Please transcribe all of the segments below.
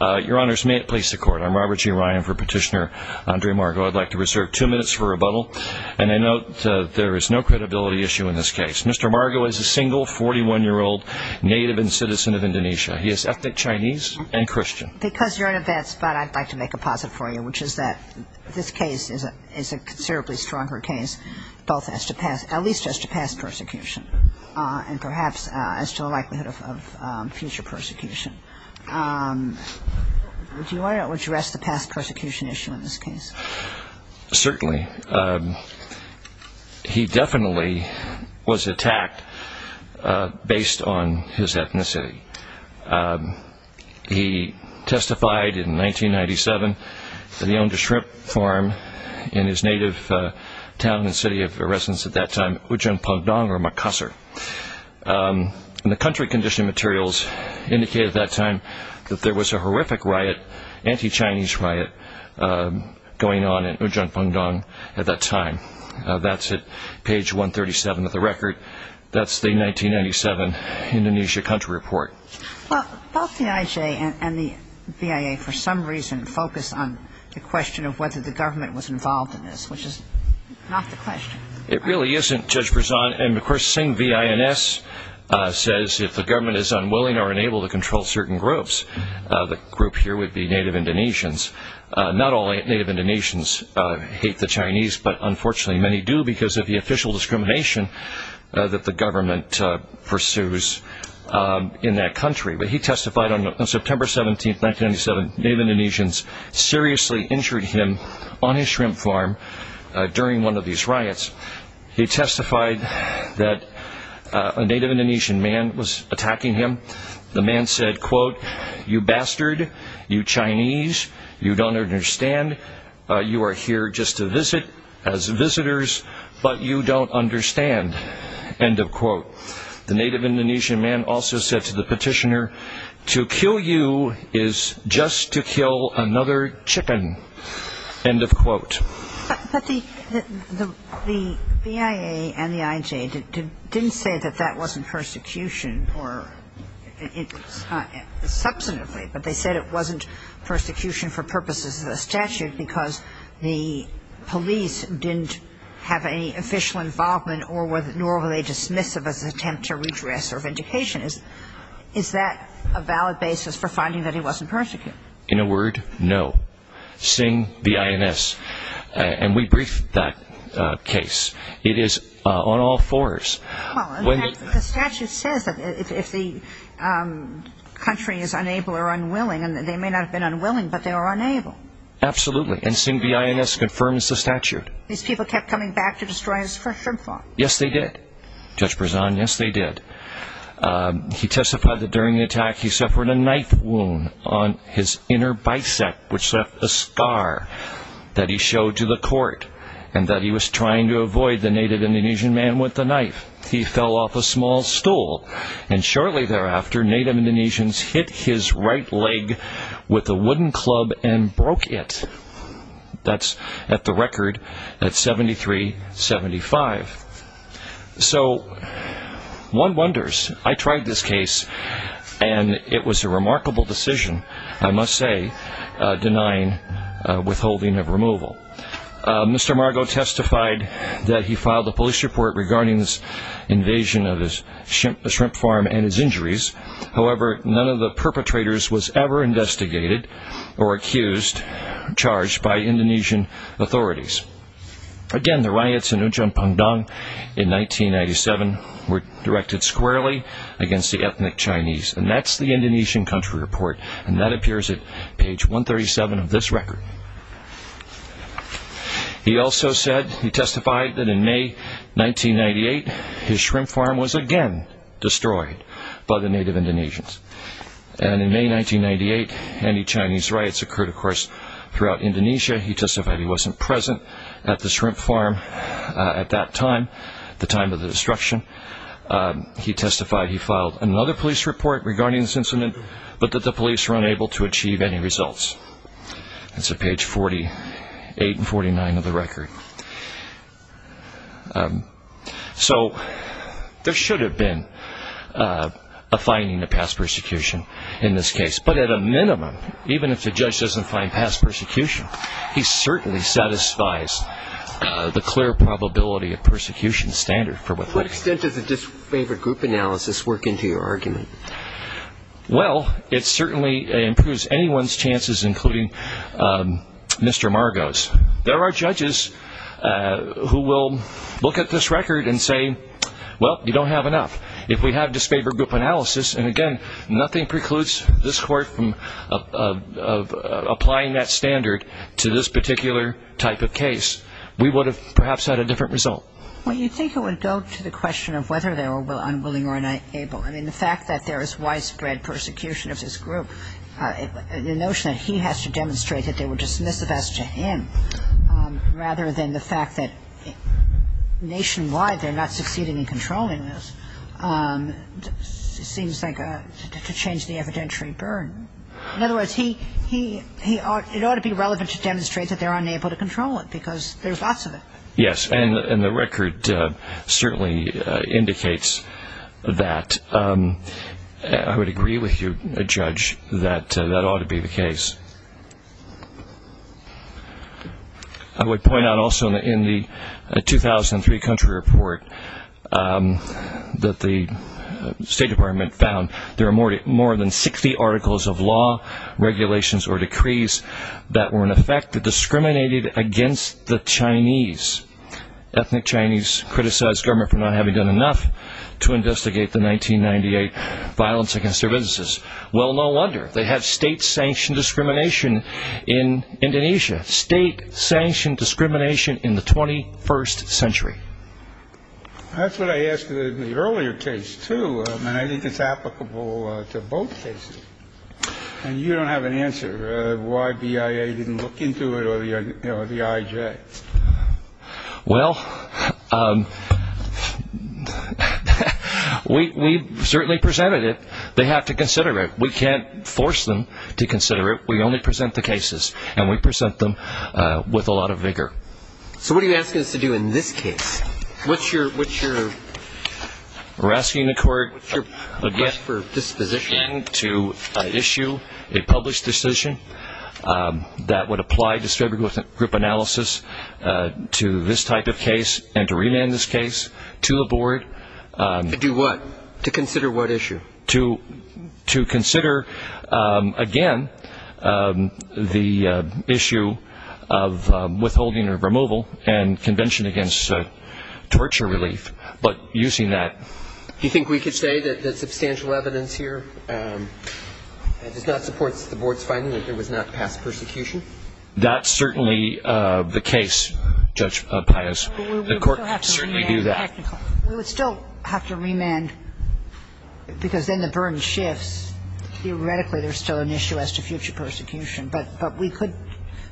Your honors, may it please the court. I'm Robert G. Ryan for Petitioner Andre Margo. I'd like to reserve two minutes for rebuttal, and I note there is no credibility issue in this case. Mr. Margo is a single 41-year-old native and citizen of Indonesia. He is ethnic Chinese and Christian. Because you're in a bad spot, I'd like to make a posit for you, which is that this case is a considerably stronger case. At least as to past persecution, and perhaps as to the likelihood of future persecution. Do you want to address the past persecution issue in this case? Certainly. He definitely was attacked based on his ethnicity. He testified in 1997 that he owned a shrimp farm in his native town and city of residence at that time, Ujung Pungdong, or Makassar. The country condition materials indicated at that time that there was a horrific riot, anti-Chinese riot, going on in Ujung Pungdong at that time. That's at page 137 of the record. That's the 1997 Indonesia country report. Well, both the IJ and the BIA, for some reason, focus on the question of whether the government was involved in this, which is not the question. It really isn't, Judge Berzon. And, of course, Sing V.I.N.S. says if the government is unwilling or unable to control certain groups, the group here would be native Indonesians. Not all native Indonesians hate the Chinese, but unfortunately many do because of the official discrimination that the government pursues in that country. He testified on September 17, 1997, native Indonesians seriously injured him on his shrimp farm during one of these riots. He testified that a native Indonesian man was attacking him. The man said, quote, you bastard, you Chinese, you don't understand, you are here just to visit as visitors, but you don't understand, end of quote. The native Indonesian man also said to the petitioner, to kill you is just to kill another chicken, end of quote. But the BIA and the IJ didn't say that that wasn't persecution or it was not substantively, but they said it wasn't persecution for purposes of the statute because the police didn't have any official involvement nor were they dismissive as an attempt to redress their vindication. Is that a valid basis for finding that he wasn't persecuted? In a word, no. Sing, B.I.N.S., and we briefed that case. It is on all fours. The statute says that if the country is unable or unwilling, and they may not have been unwilling, but they were unable. Absolutely. And Sing, B.I.N.S. confirms the statute. These people kept coming back to destroy his fresh shrimp farm. Yes, they did. Judge Brezan, yes, they did. He testified that during the attack, he suffered a knife wound on his inner bicep, which left a scar that he showed to the court and that he was trying to avoid the native Indonesian man with the knife. He fell off a small stool and shortly thereafter, native Indonesians hit his right leg with a wooden club and broke it. That's at the record at 73-75. So, one wonders. I tried this case and it was a remarkable decision, I must say, denying withholding of removal. Mr. Margo testified that he filed a police report regarding this invasion of his shrimp farm and his injuries. However, none of the perpetrators was ever investigated or accused, charged by Indonesian authorities. Again, the riots in Ujung Pangdong in 1997 were directed squarely against the ethnic Chinese. And that's the Indonesian country report. And that appears at page 137 of this record. He also said, he testified that in May 1998, his shrimp farm was again destroyed by the native Indonesians. And in May 1998, anti-Chinese riots occurred, of course, throughout Indonesia. He testified he wasn't present at the shrimp farm at that time, the time of the destruction. He testified he filed another police report regarding this incident, but that the police were unable to achieve any results. That's at page 48 and 49 of the record. So, there should have been a finding of past persecution in this case. But at a minimum, even if the judge doesn't find past persecution, he certainly satisfies the clear probability of persecution standard for withholding. To what extent does a disfavored group analysis work into your argument? Well, it certainly improves anyone's chances, including Mr. Margo's. There are judges who will look at this record and say, well, you don't have enough. If we have disfavored group analysis, and again, nothing precludes this court from applying that standard to this particular type of case, we would have perhaps had a different result. Well, you'd think it would go to the question of whether they were unwilling or unable. I mean, the fact that there is widespread persecution of this group, the notion that he has to demonstrate that they would dismiss the facts to him, rather than the fact that nationwide they're not succeeding in controlling this, seems to change the evidentiary burden. In other words, it ought to be relevant to demonstrate that they're unable to control it, because there's lots of it. Yes, and the record certainly indicates that. I would agree with you, Judge, that that ought to be the case. I would point out also, in the 2003 country report that the State Department found, there are more than 60 articles of law, regulations, or decrees that were, in effect, discriminated against the Chinese. Ethnic Chinese criticized government for not having done enough to investigate the 1998 violence against their businesses. Well, no wonder. They have state-sanctioned discrimination in Indonesia. State-sanctioned discrimination in the 21st century. That's what I asked in the earlier case, too, and I think it's applicable to both cases. And you don't have an answer as to why BIA didn't look into it or the IJ. Well, we certainly presented it. They have to consider it. We can't force them to consider it. We only present the cases, and we present them with a lot of vigor. So what are you asking us to do in this case? We're asking the court, again, to issue a published decision that would apply distributed group analysis to this type of case and to remand this case to the board. To do what? To consider what issue? To consider, again, the issue of withholding or removal and convention against torture relief, but using that. Do you think we could say that the substantial evidence here does not support the board's finding that there was not past persecution? That's certainly the case, Judge Pius. The court would certainly do that. We would still have to remand, because then the burden shifts. Theoretically, there's still an issue as to future persecution, but we could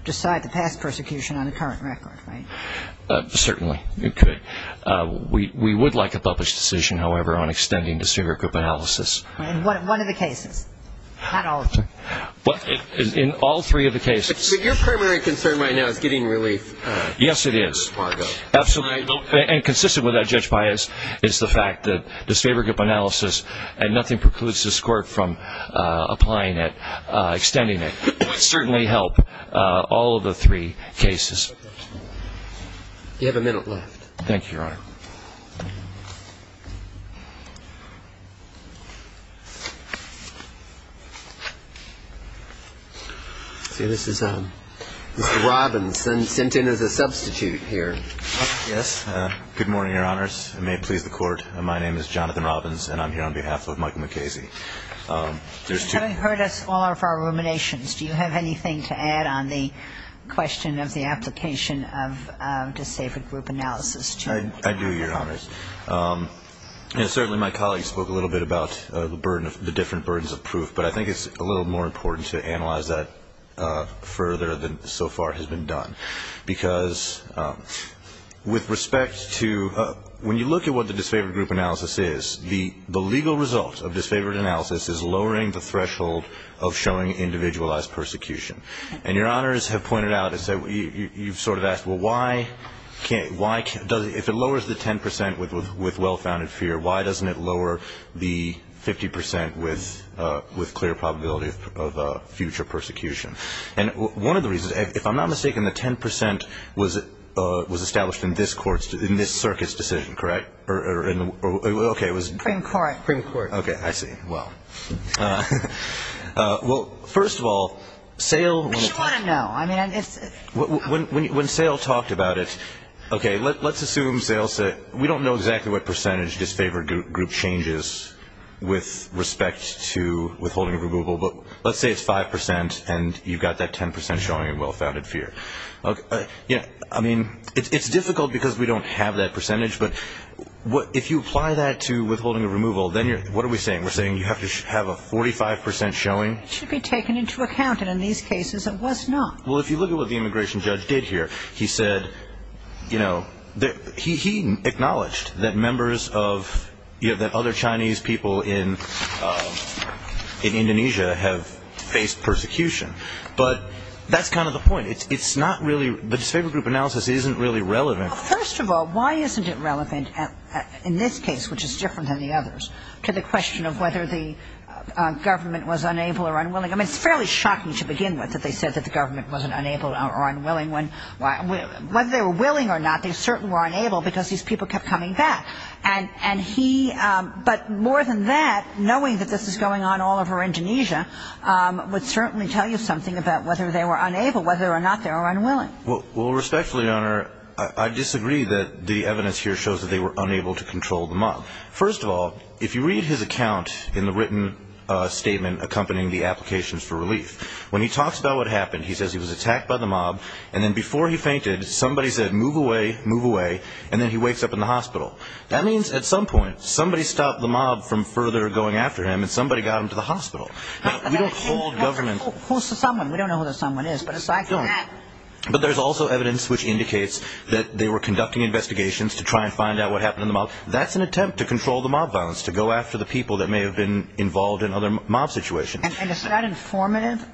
decide the past persecution on a current record, right? Certainly, you could. We would like a published decision, however, on extending distributed group analysis. In one of the cases, not all of them. In all three of the cases. But your primary concern right now is getting relief. Yes, it is. Absolutely. And consistent with that, Judge Pius, is the fact that distributed group analysis, and nothing precludes this court from applying it, extending it, would certainly help all of the three cases. You have a minute left. See, this is Mr. Robbins, sent in as a substitute here. Yes. Good morning, Your Honors. It may please the Court. My name is Jonathan Robbins, and I'm here on behalf of Michael McKayze. There's two of you. Having heard us all of our ruminations, do you have anything to add on the question of the application of distributed group analysis? I do. I do. I do, Your Honors. Certainly, my colleagues spoke a little bit about the different burdens of proof, but I think it's a little more important to analyze that further than so far has been done. Because with respect to, when you look at what the disfavored group analysis is, the legal result of disfavored analysis is lowering the threshold of showing individualized persecution. And Your Honors have pointed out, you've sort of asked, well, if it lowers the 10% with well-founded fear, why doesn't it lower the 50% with clear probability of future persecution? And one of the reasons, if I'm not mistaken, the 10% was established in this circuit's decision, correct? Or, okay, it was? In court. Okay, I see. Well. Well, first of all, SAIL. But you want to know. When SAIL talked about it, okay, let's assume SAIL said, we don't know exactly what percentage disfavored group changes with respect to withholding a removal, but let's say it's 5% and you've got that 10% showing in well-founded fear. I mean, it's difficult because we don't have that percentage, but if you apply that to withholding a removal, then what are we saying? We're saying you have to have a 45% showing? It should be taken into account, and in these cases, it was not. Well, if you look at what the immigration judge did here, he said, you know, he acknowledged that members of, you know, that other Chinese people in Indonesia have faced persecution. But that's kind of the point. It's not really, the disfavored group analysis isn't really relevant. First of all, why isn't it relevant in this case, which is different than the others, to the question of whether the government was unable or unwilling? I mean, it's fairly shocking to begin with that they said that the government wasn't unable or unwilling. Whether they were willing or not, they certainly were unable because these people kept coming back. And he, but more than that, knowing that this is going on all over Indonesia, would certainly tell you something about whether they were unable, whether or not they were unwilling. Well, respectfully, Your Honor, I disagree that the evidence here shows that they were unable to control the mob. First of all, if you read his account in the written statement accompanying the applications for relief, when he talks about what happened, he says he was attacked by the mob. And then before he fainted, somebody said, move away, move away. And then he wakes up in the hospital. That means at some point, somebody stopped the mob from further going after him and somebody got him to the hospital. We don't hold government. Who's the someone? We don't know who the someone is. But there's also evidence which indicates that they were conducting investigations to try and find out what happened in the mob. That's an attempt to control the mob violence, to go after the people that may have been involved in other mob situations. And it's not informative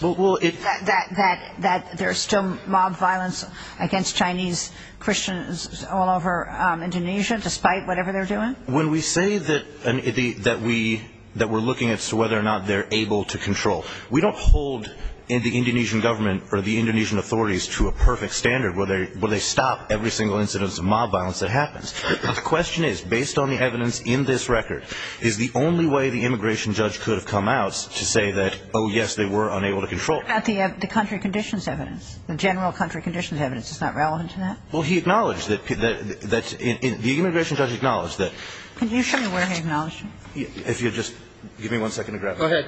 that there's still mob violence against Chinese Christians all over Indonesia, despite whatever they're doing? When we say that we're looking as to whether or not they're able to control, we don't hold the Indonesian government or the Indonesian authorities to a perfect standard where they stop every single incidence of mob violence that happens. The question is, based on the evidence in this record, is the only way the immigration judge could have come out to say that, oh, yes, they were unable to control? What about the country conditions evidence? The general country conditions evidence is not relevant to that? Well, he acknowledged that the immigration judge acknowledged that. Can you show me where he acknowledged it? If you'll just give me one second to grab that. Go ahead.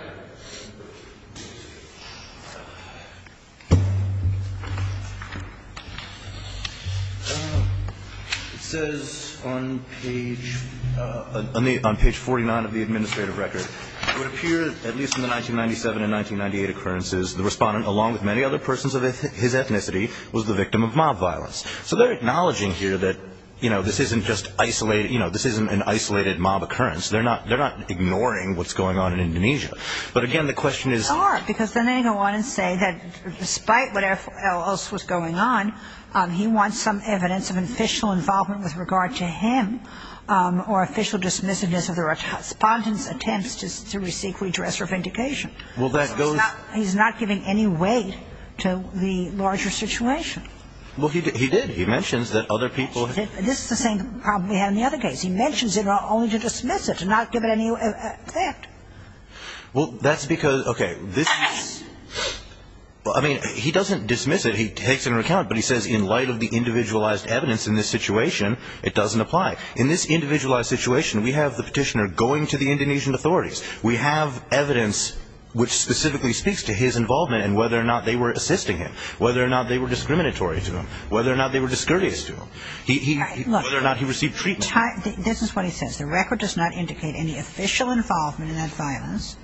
It says on page 49 of the administrative record, it would appear that at least in the 1997 and 1998 occurrences, the respondent, along with many other persons of his ethnicity, was the victim of mob violence. So they're acknowledging here that this isn't an isolated mob occurrence. They're not ignoring what's going on in Indonesia. But again, the question is... They are, because then they go on and say that despite what else was going on, he wants some evidence of official involvement with regard to him, or official dismissiveness of the respondent's attempts to seek redress or vindication. Well, that goes... He's not giving any weight to the larger situation. Well, he did. He mentions that other people... This is the same problem we had in the other case. He mentions it only to dismiss it, to not give it any effect. Well, that's because... Okay. I mean, he doesn't dismiss it. He takes it into account, but he says in light of the individualized evidence in this situation, it doesn't apply. In this individualized situation, we have the petitioner going to the Indonesian authorities. We have evidence which specifically speaks to his involvement and whether or not they were assisting him, whether or not they were discriminatory to him, whether or not they were discourteous to him, whether or not he received treatment. This is what he says. The record does not indicate any official involvement in that violence,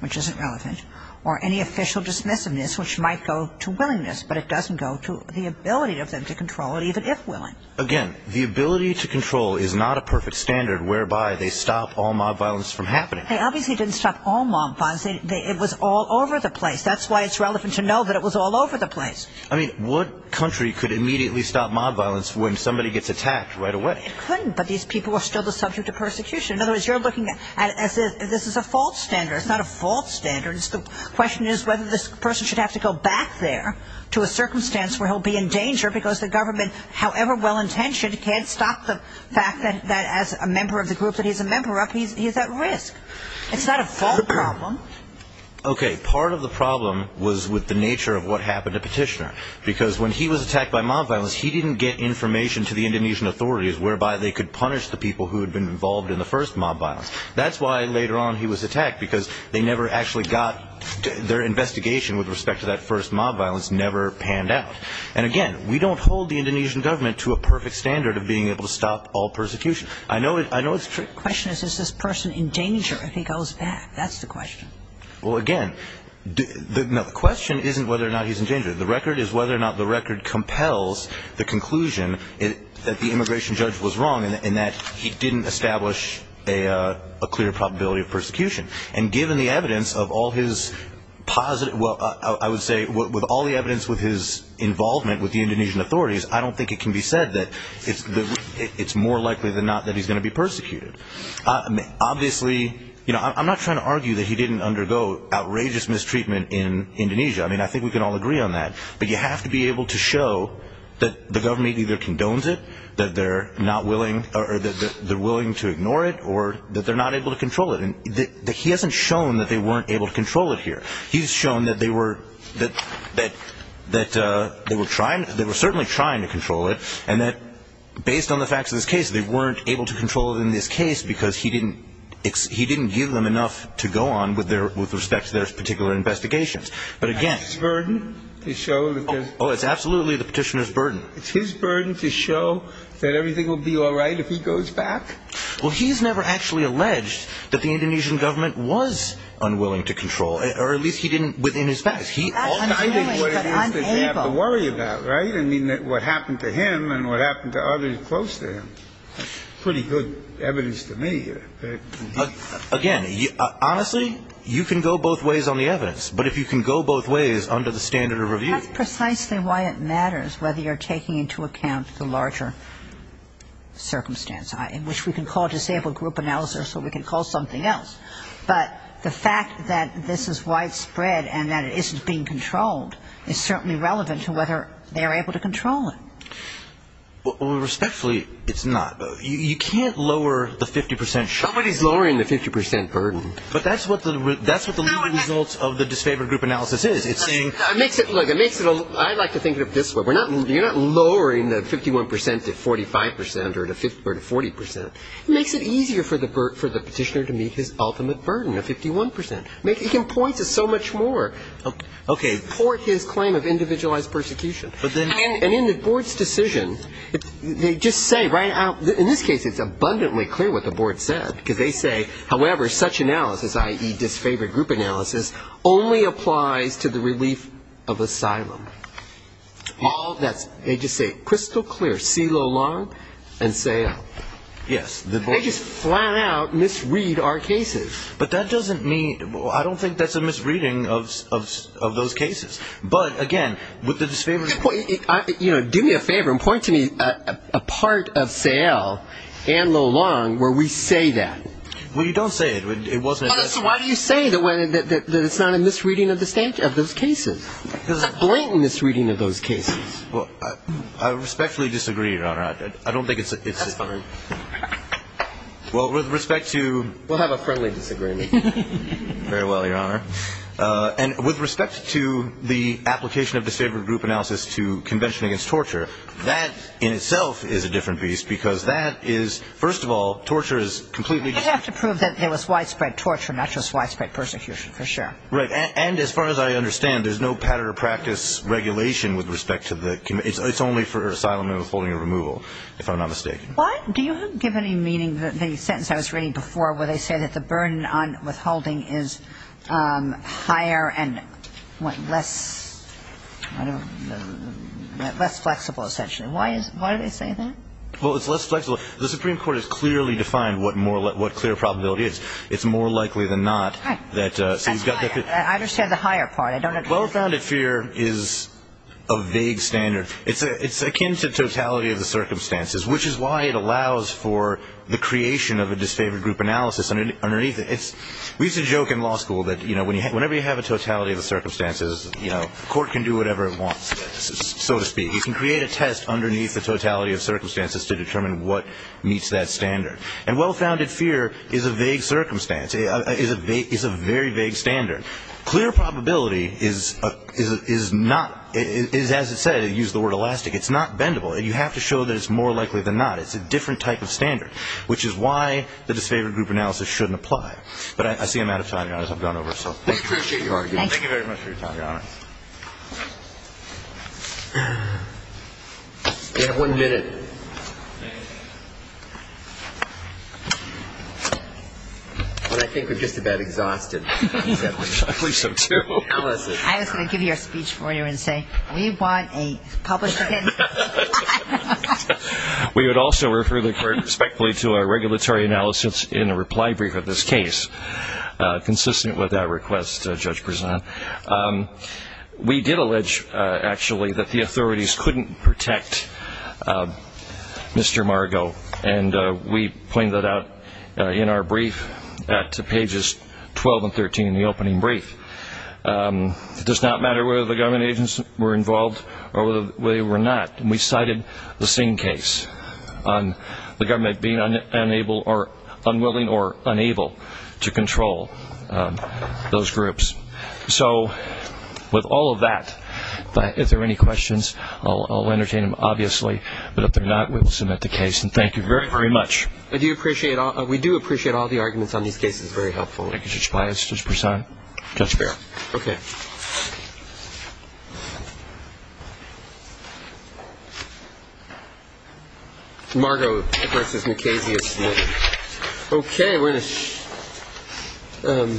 which isn't relevant, or any official dismissiveness, which might go to willingness, but it doesn't go to the ability of them to control it, even if willing. Again, the ability to control is not a perfect standard whereby they stop all mob violence from happening. They obviously didn't stop all mob violence. It was all over the place. That's why it's relevant to know that it was all over the place. I mean, what country could immediately stop mob violence when somebody gets attacked right away? It couldn't, but these people were still the subject of persecution. In other words, you're looking at it as if this is a false standard. It's not a false standard. The question is whether this person should have to go back there to a circumstance where he'll be in danger because the government, however well-intentioned, can't stop the fact that as a member of the group that he's a member of, he's at risk. It's not a fault problem. Okay. Part of the problem was with the nature of what happened to Petitioner because when he was attacked by mob violence, he didn't get information to the Indonesian authorities whereby they could punish the people who had been involved in the first mob violence. That's why later on he was attacked because they never actually got their investigation with respect to that first mob violence never panned out. And again, we don't hold the Indonesian government to a perfect standard of being able to stop all persecution. I know it's true. The question is, is this person in danger if he goes back? That's the question. Well, again, the question isn't whether or not he's in danger. The record is whether or not the record compels the conclusion that the immigration judge was wrong and that he didn't establish a clear probability of persecution. And given the evidence of all his positive, well, I would say, with all the evidence with his involvement with the Indonesian authorities, I don't think it can be said that it's more likely than not that he's going to be persecuted. Obviously, you know, I'm not trying to argue that he didn't undergo outrageous mistreatment in Indonesia. I mean, I think we can all agree on that. But you have to be able to show that the government either condones it, that they're willing to ignore it, or that they're not able to control it. And he hasn't shown that they weren't able to control it here. He's shown that they were certainly trying to control it, and that based on the facts of this case, they weren't able to control it in this case because he didn't give them enough to go on with respect to their particular investigations. But again, it's his burden to show that everything will be all right if he goes back? Well, he's never actually alleged that the Indonesian government was unwilling to control it, or at least he didn't within his facts. I think what it is that they have to worry about, right? I mean, what happened to him and what happened to others close to him. Pretty good evidence to me. Again, honestly, you can go both ways on the evidence, but if you can go both ways under the standard of review. That's precisely why it matters whether you're taking into account the larger circumstance in which we can call disabled group analysis or we can call something else. But the fact that this is widespread and that it isn't being controlled is certainly relevant to whether they're able to control it. Well, respectfully, it's not. You can't lower the 50 percent. Somebody's lowering the 50 percent burden. But that's what the leading results of the disfavored group analysis is. It's saying... Look, I'd like to think of it this way. You're not lowering the 51 percent to 45 percent or to 40 percent. It makes it easier for the petitioner to meet his ultimate burden of 51 percent. He can point to so much more. Okay. Port his claim of individualized persecution. But then... And in the board's decision, they just say right out... In this case, it's abundantly clear what the board said, because they say, however, such analysis, i.e., disfavored group analysis, only applies to the relief of asylum. All that's... They just say crystal clear. See Lo Long and Sayle. Yes. They just flat out misread our cases. But that doesn't mean... I don't think that's a misreading of those cases. But, again, with the disfavored group... Do me a favor and point to me a part of Sayle and Lo Long where we say that. Well, you don't say it. It wasn't addressed... Why do you say that it's not a misreading of those cases? Because it's a blatant misreading of those cases. Well, I respectfully disagree, Your Honor. I don't think it's a... That's fine. Well, with respect to... We'll have a friendly disagreement. Very well, Your Honor. And with respect to the application of disfavored group analysis to convention against torture, that in itself is a different beast because that is, first of all, torture is completely... They have to prove that it was widespread torture, not just widespread persecution, for sure. Right. And as far as I understand, there's no pattern or practice regulation with respect to the... It's only for asylum and withholding or removal, if I'm not mistaken. Do you give any meaning to the sentence I was reading before where they say that the burden on withholding is higher and less flexible, essentially? Why do they say that? Well, it's less flexible. The Supreme Court has clearly defined what clear probability is. It's more likely than not that... I understand the higher part. Well-founded fear is a vague standard. It's akin to totality of the circumstances, which is why it allows for the creation of a disfavored group analysis underneath it. We used to joke in law school that whenever you have a totality of the circumstances, the court can do whatever it wants, so to speak. You can create a test underneath the totality of circumstances to determine what meets that standard. And well-founded fear is a vague circumstance. It's a very vague standard. Clear probability is not... As it says, they use the word elastic. It's not bendable. You have to show that it's more likely than not. It's a different type of standard, which is why the disfavored group analysis shouldn't apply. But I see I'm out of time, Your Honor, so I've gone over. We appreciate your argument. Thank you very much for your time, Your Honor. We have one minute. Well, I think we're just about exhausted. I believe so, too. I was going to give you a speech for you and say, we want a published opinion. We would also refer the court respectfully to our regulatory analysis in a reply brief of this case, consistent with that request, Judge Prezant. We did allege, actually, that the authorities couldn't protect Mr. Margo, and we pointed that out in our brief at pages 12 and 13 in the opening brief. It does not matter whether the government agents were involved or whether they were not. We cited the Singh case on the government being unwilling or unable to control those groups. So with all of that, if there are any questions, I'll entertain them, obviously. But if there are not, we will submit the case, and thank you very, very much. We do appreciate all the arguments on these cases. Very helpful. Thank you, Judge Prezant. Judge Barrett. Okay. Margo v. McCasey is submitted. Okay, we're going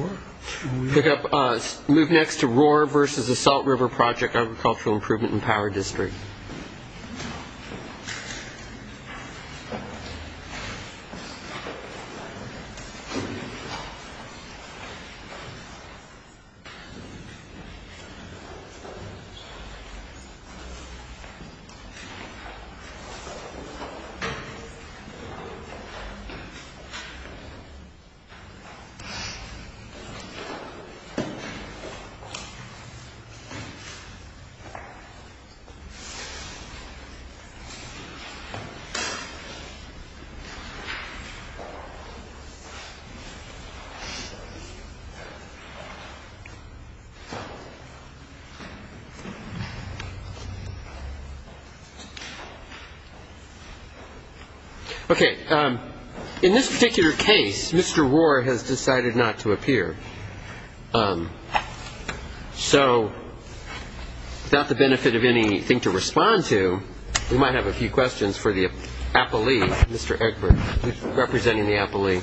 to pick up. Move next to Rohwer v. Salt River Project Agricultural Improvement and Power District. Okay. In this particular case, Mr. Rohwer has decided not to appear. So without the benefit of anything to respond to, we might have a few questions for the appellee, Mr. Egbert, representing the appellee.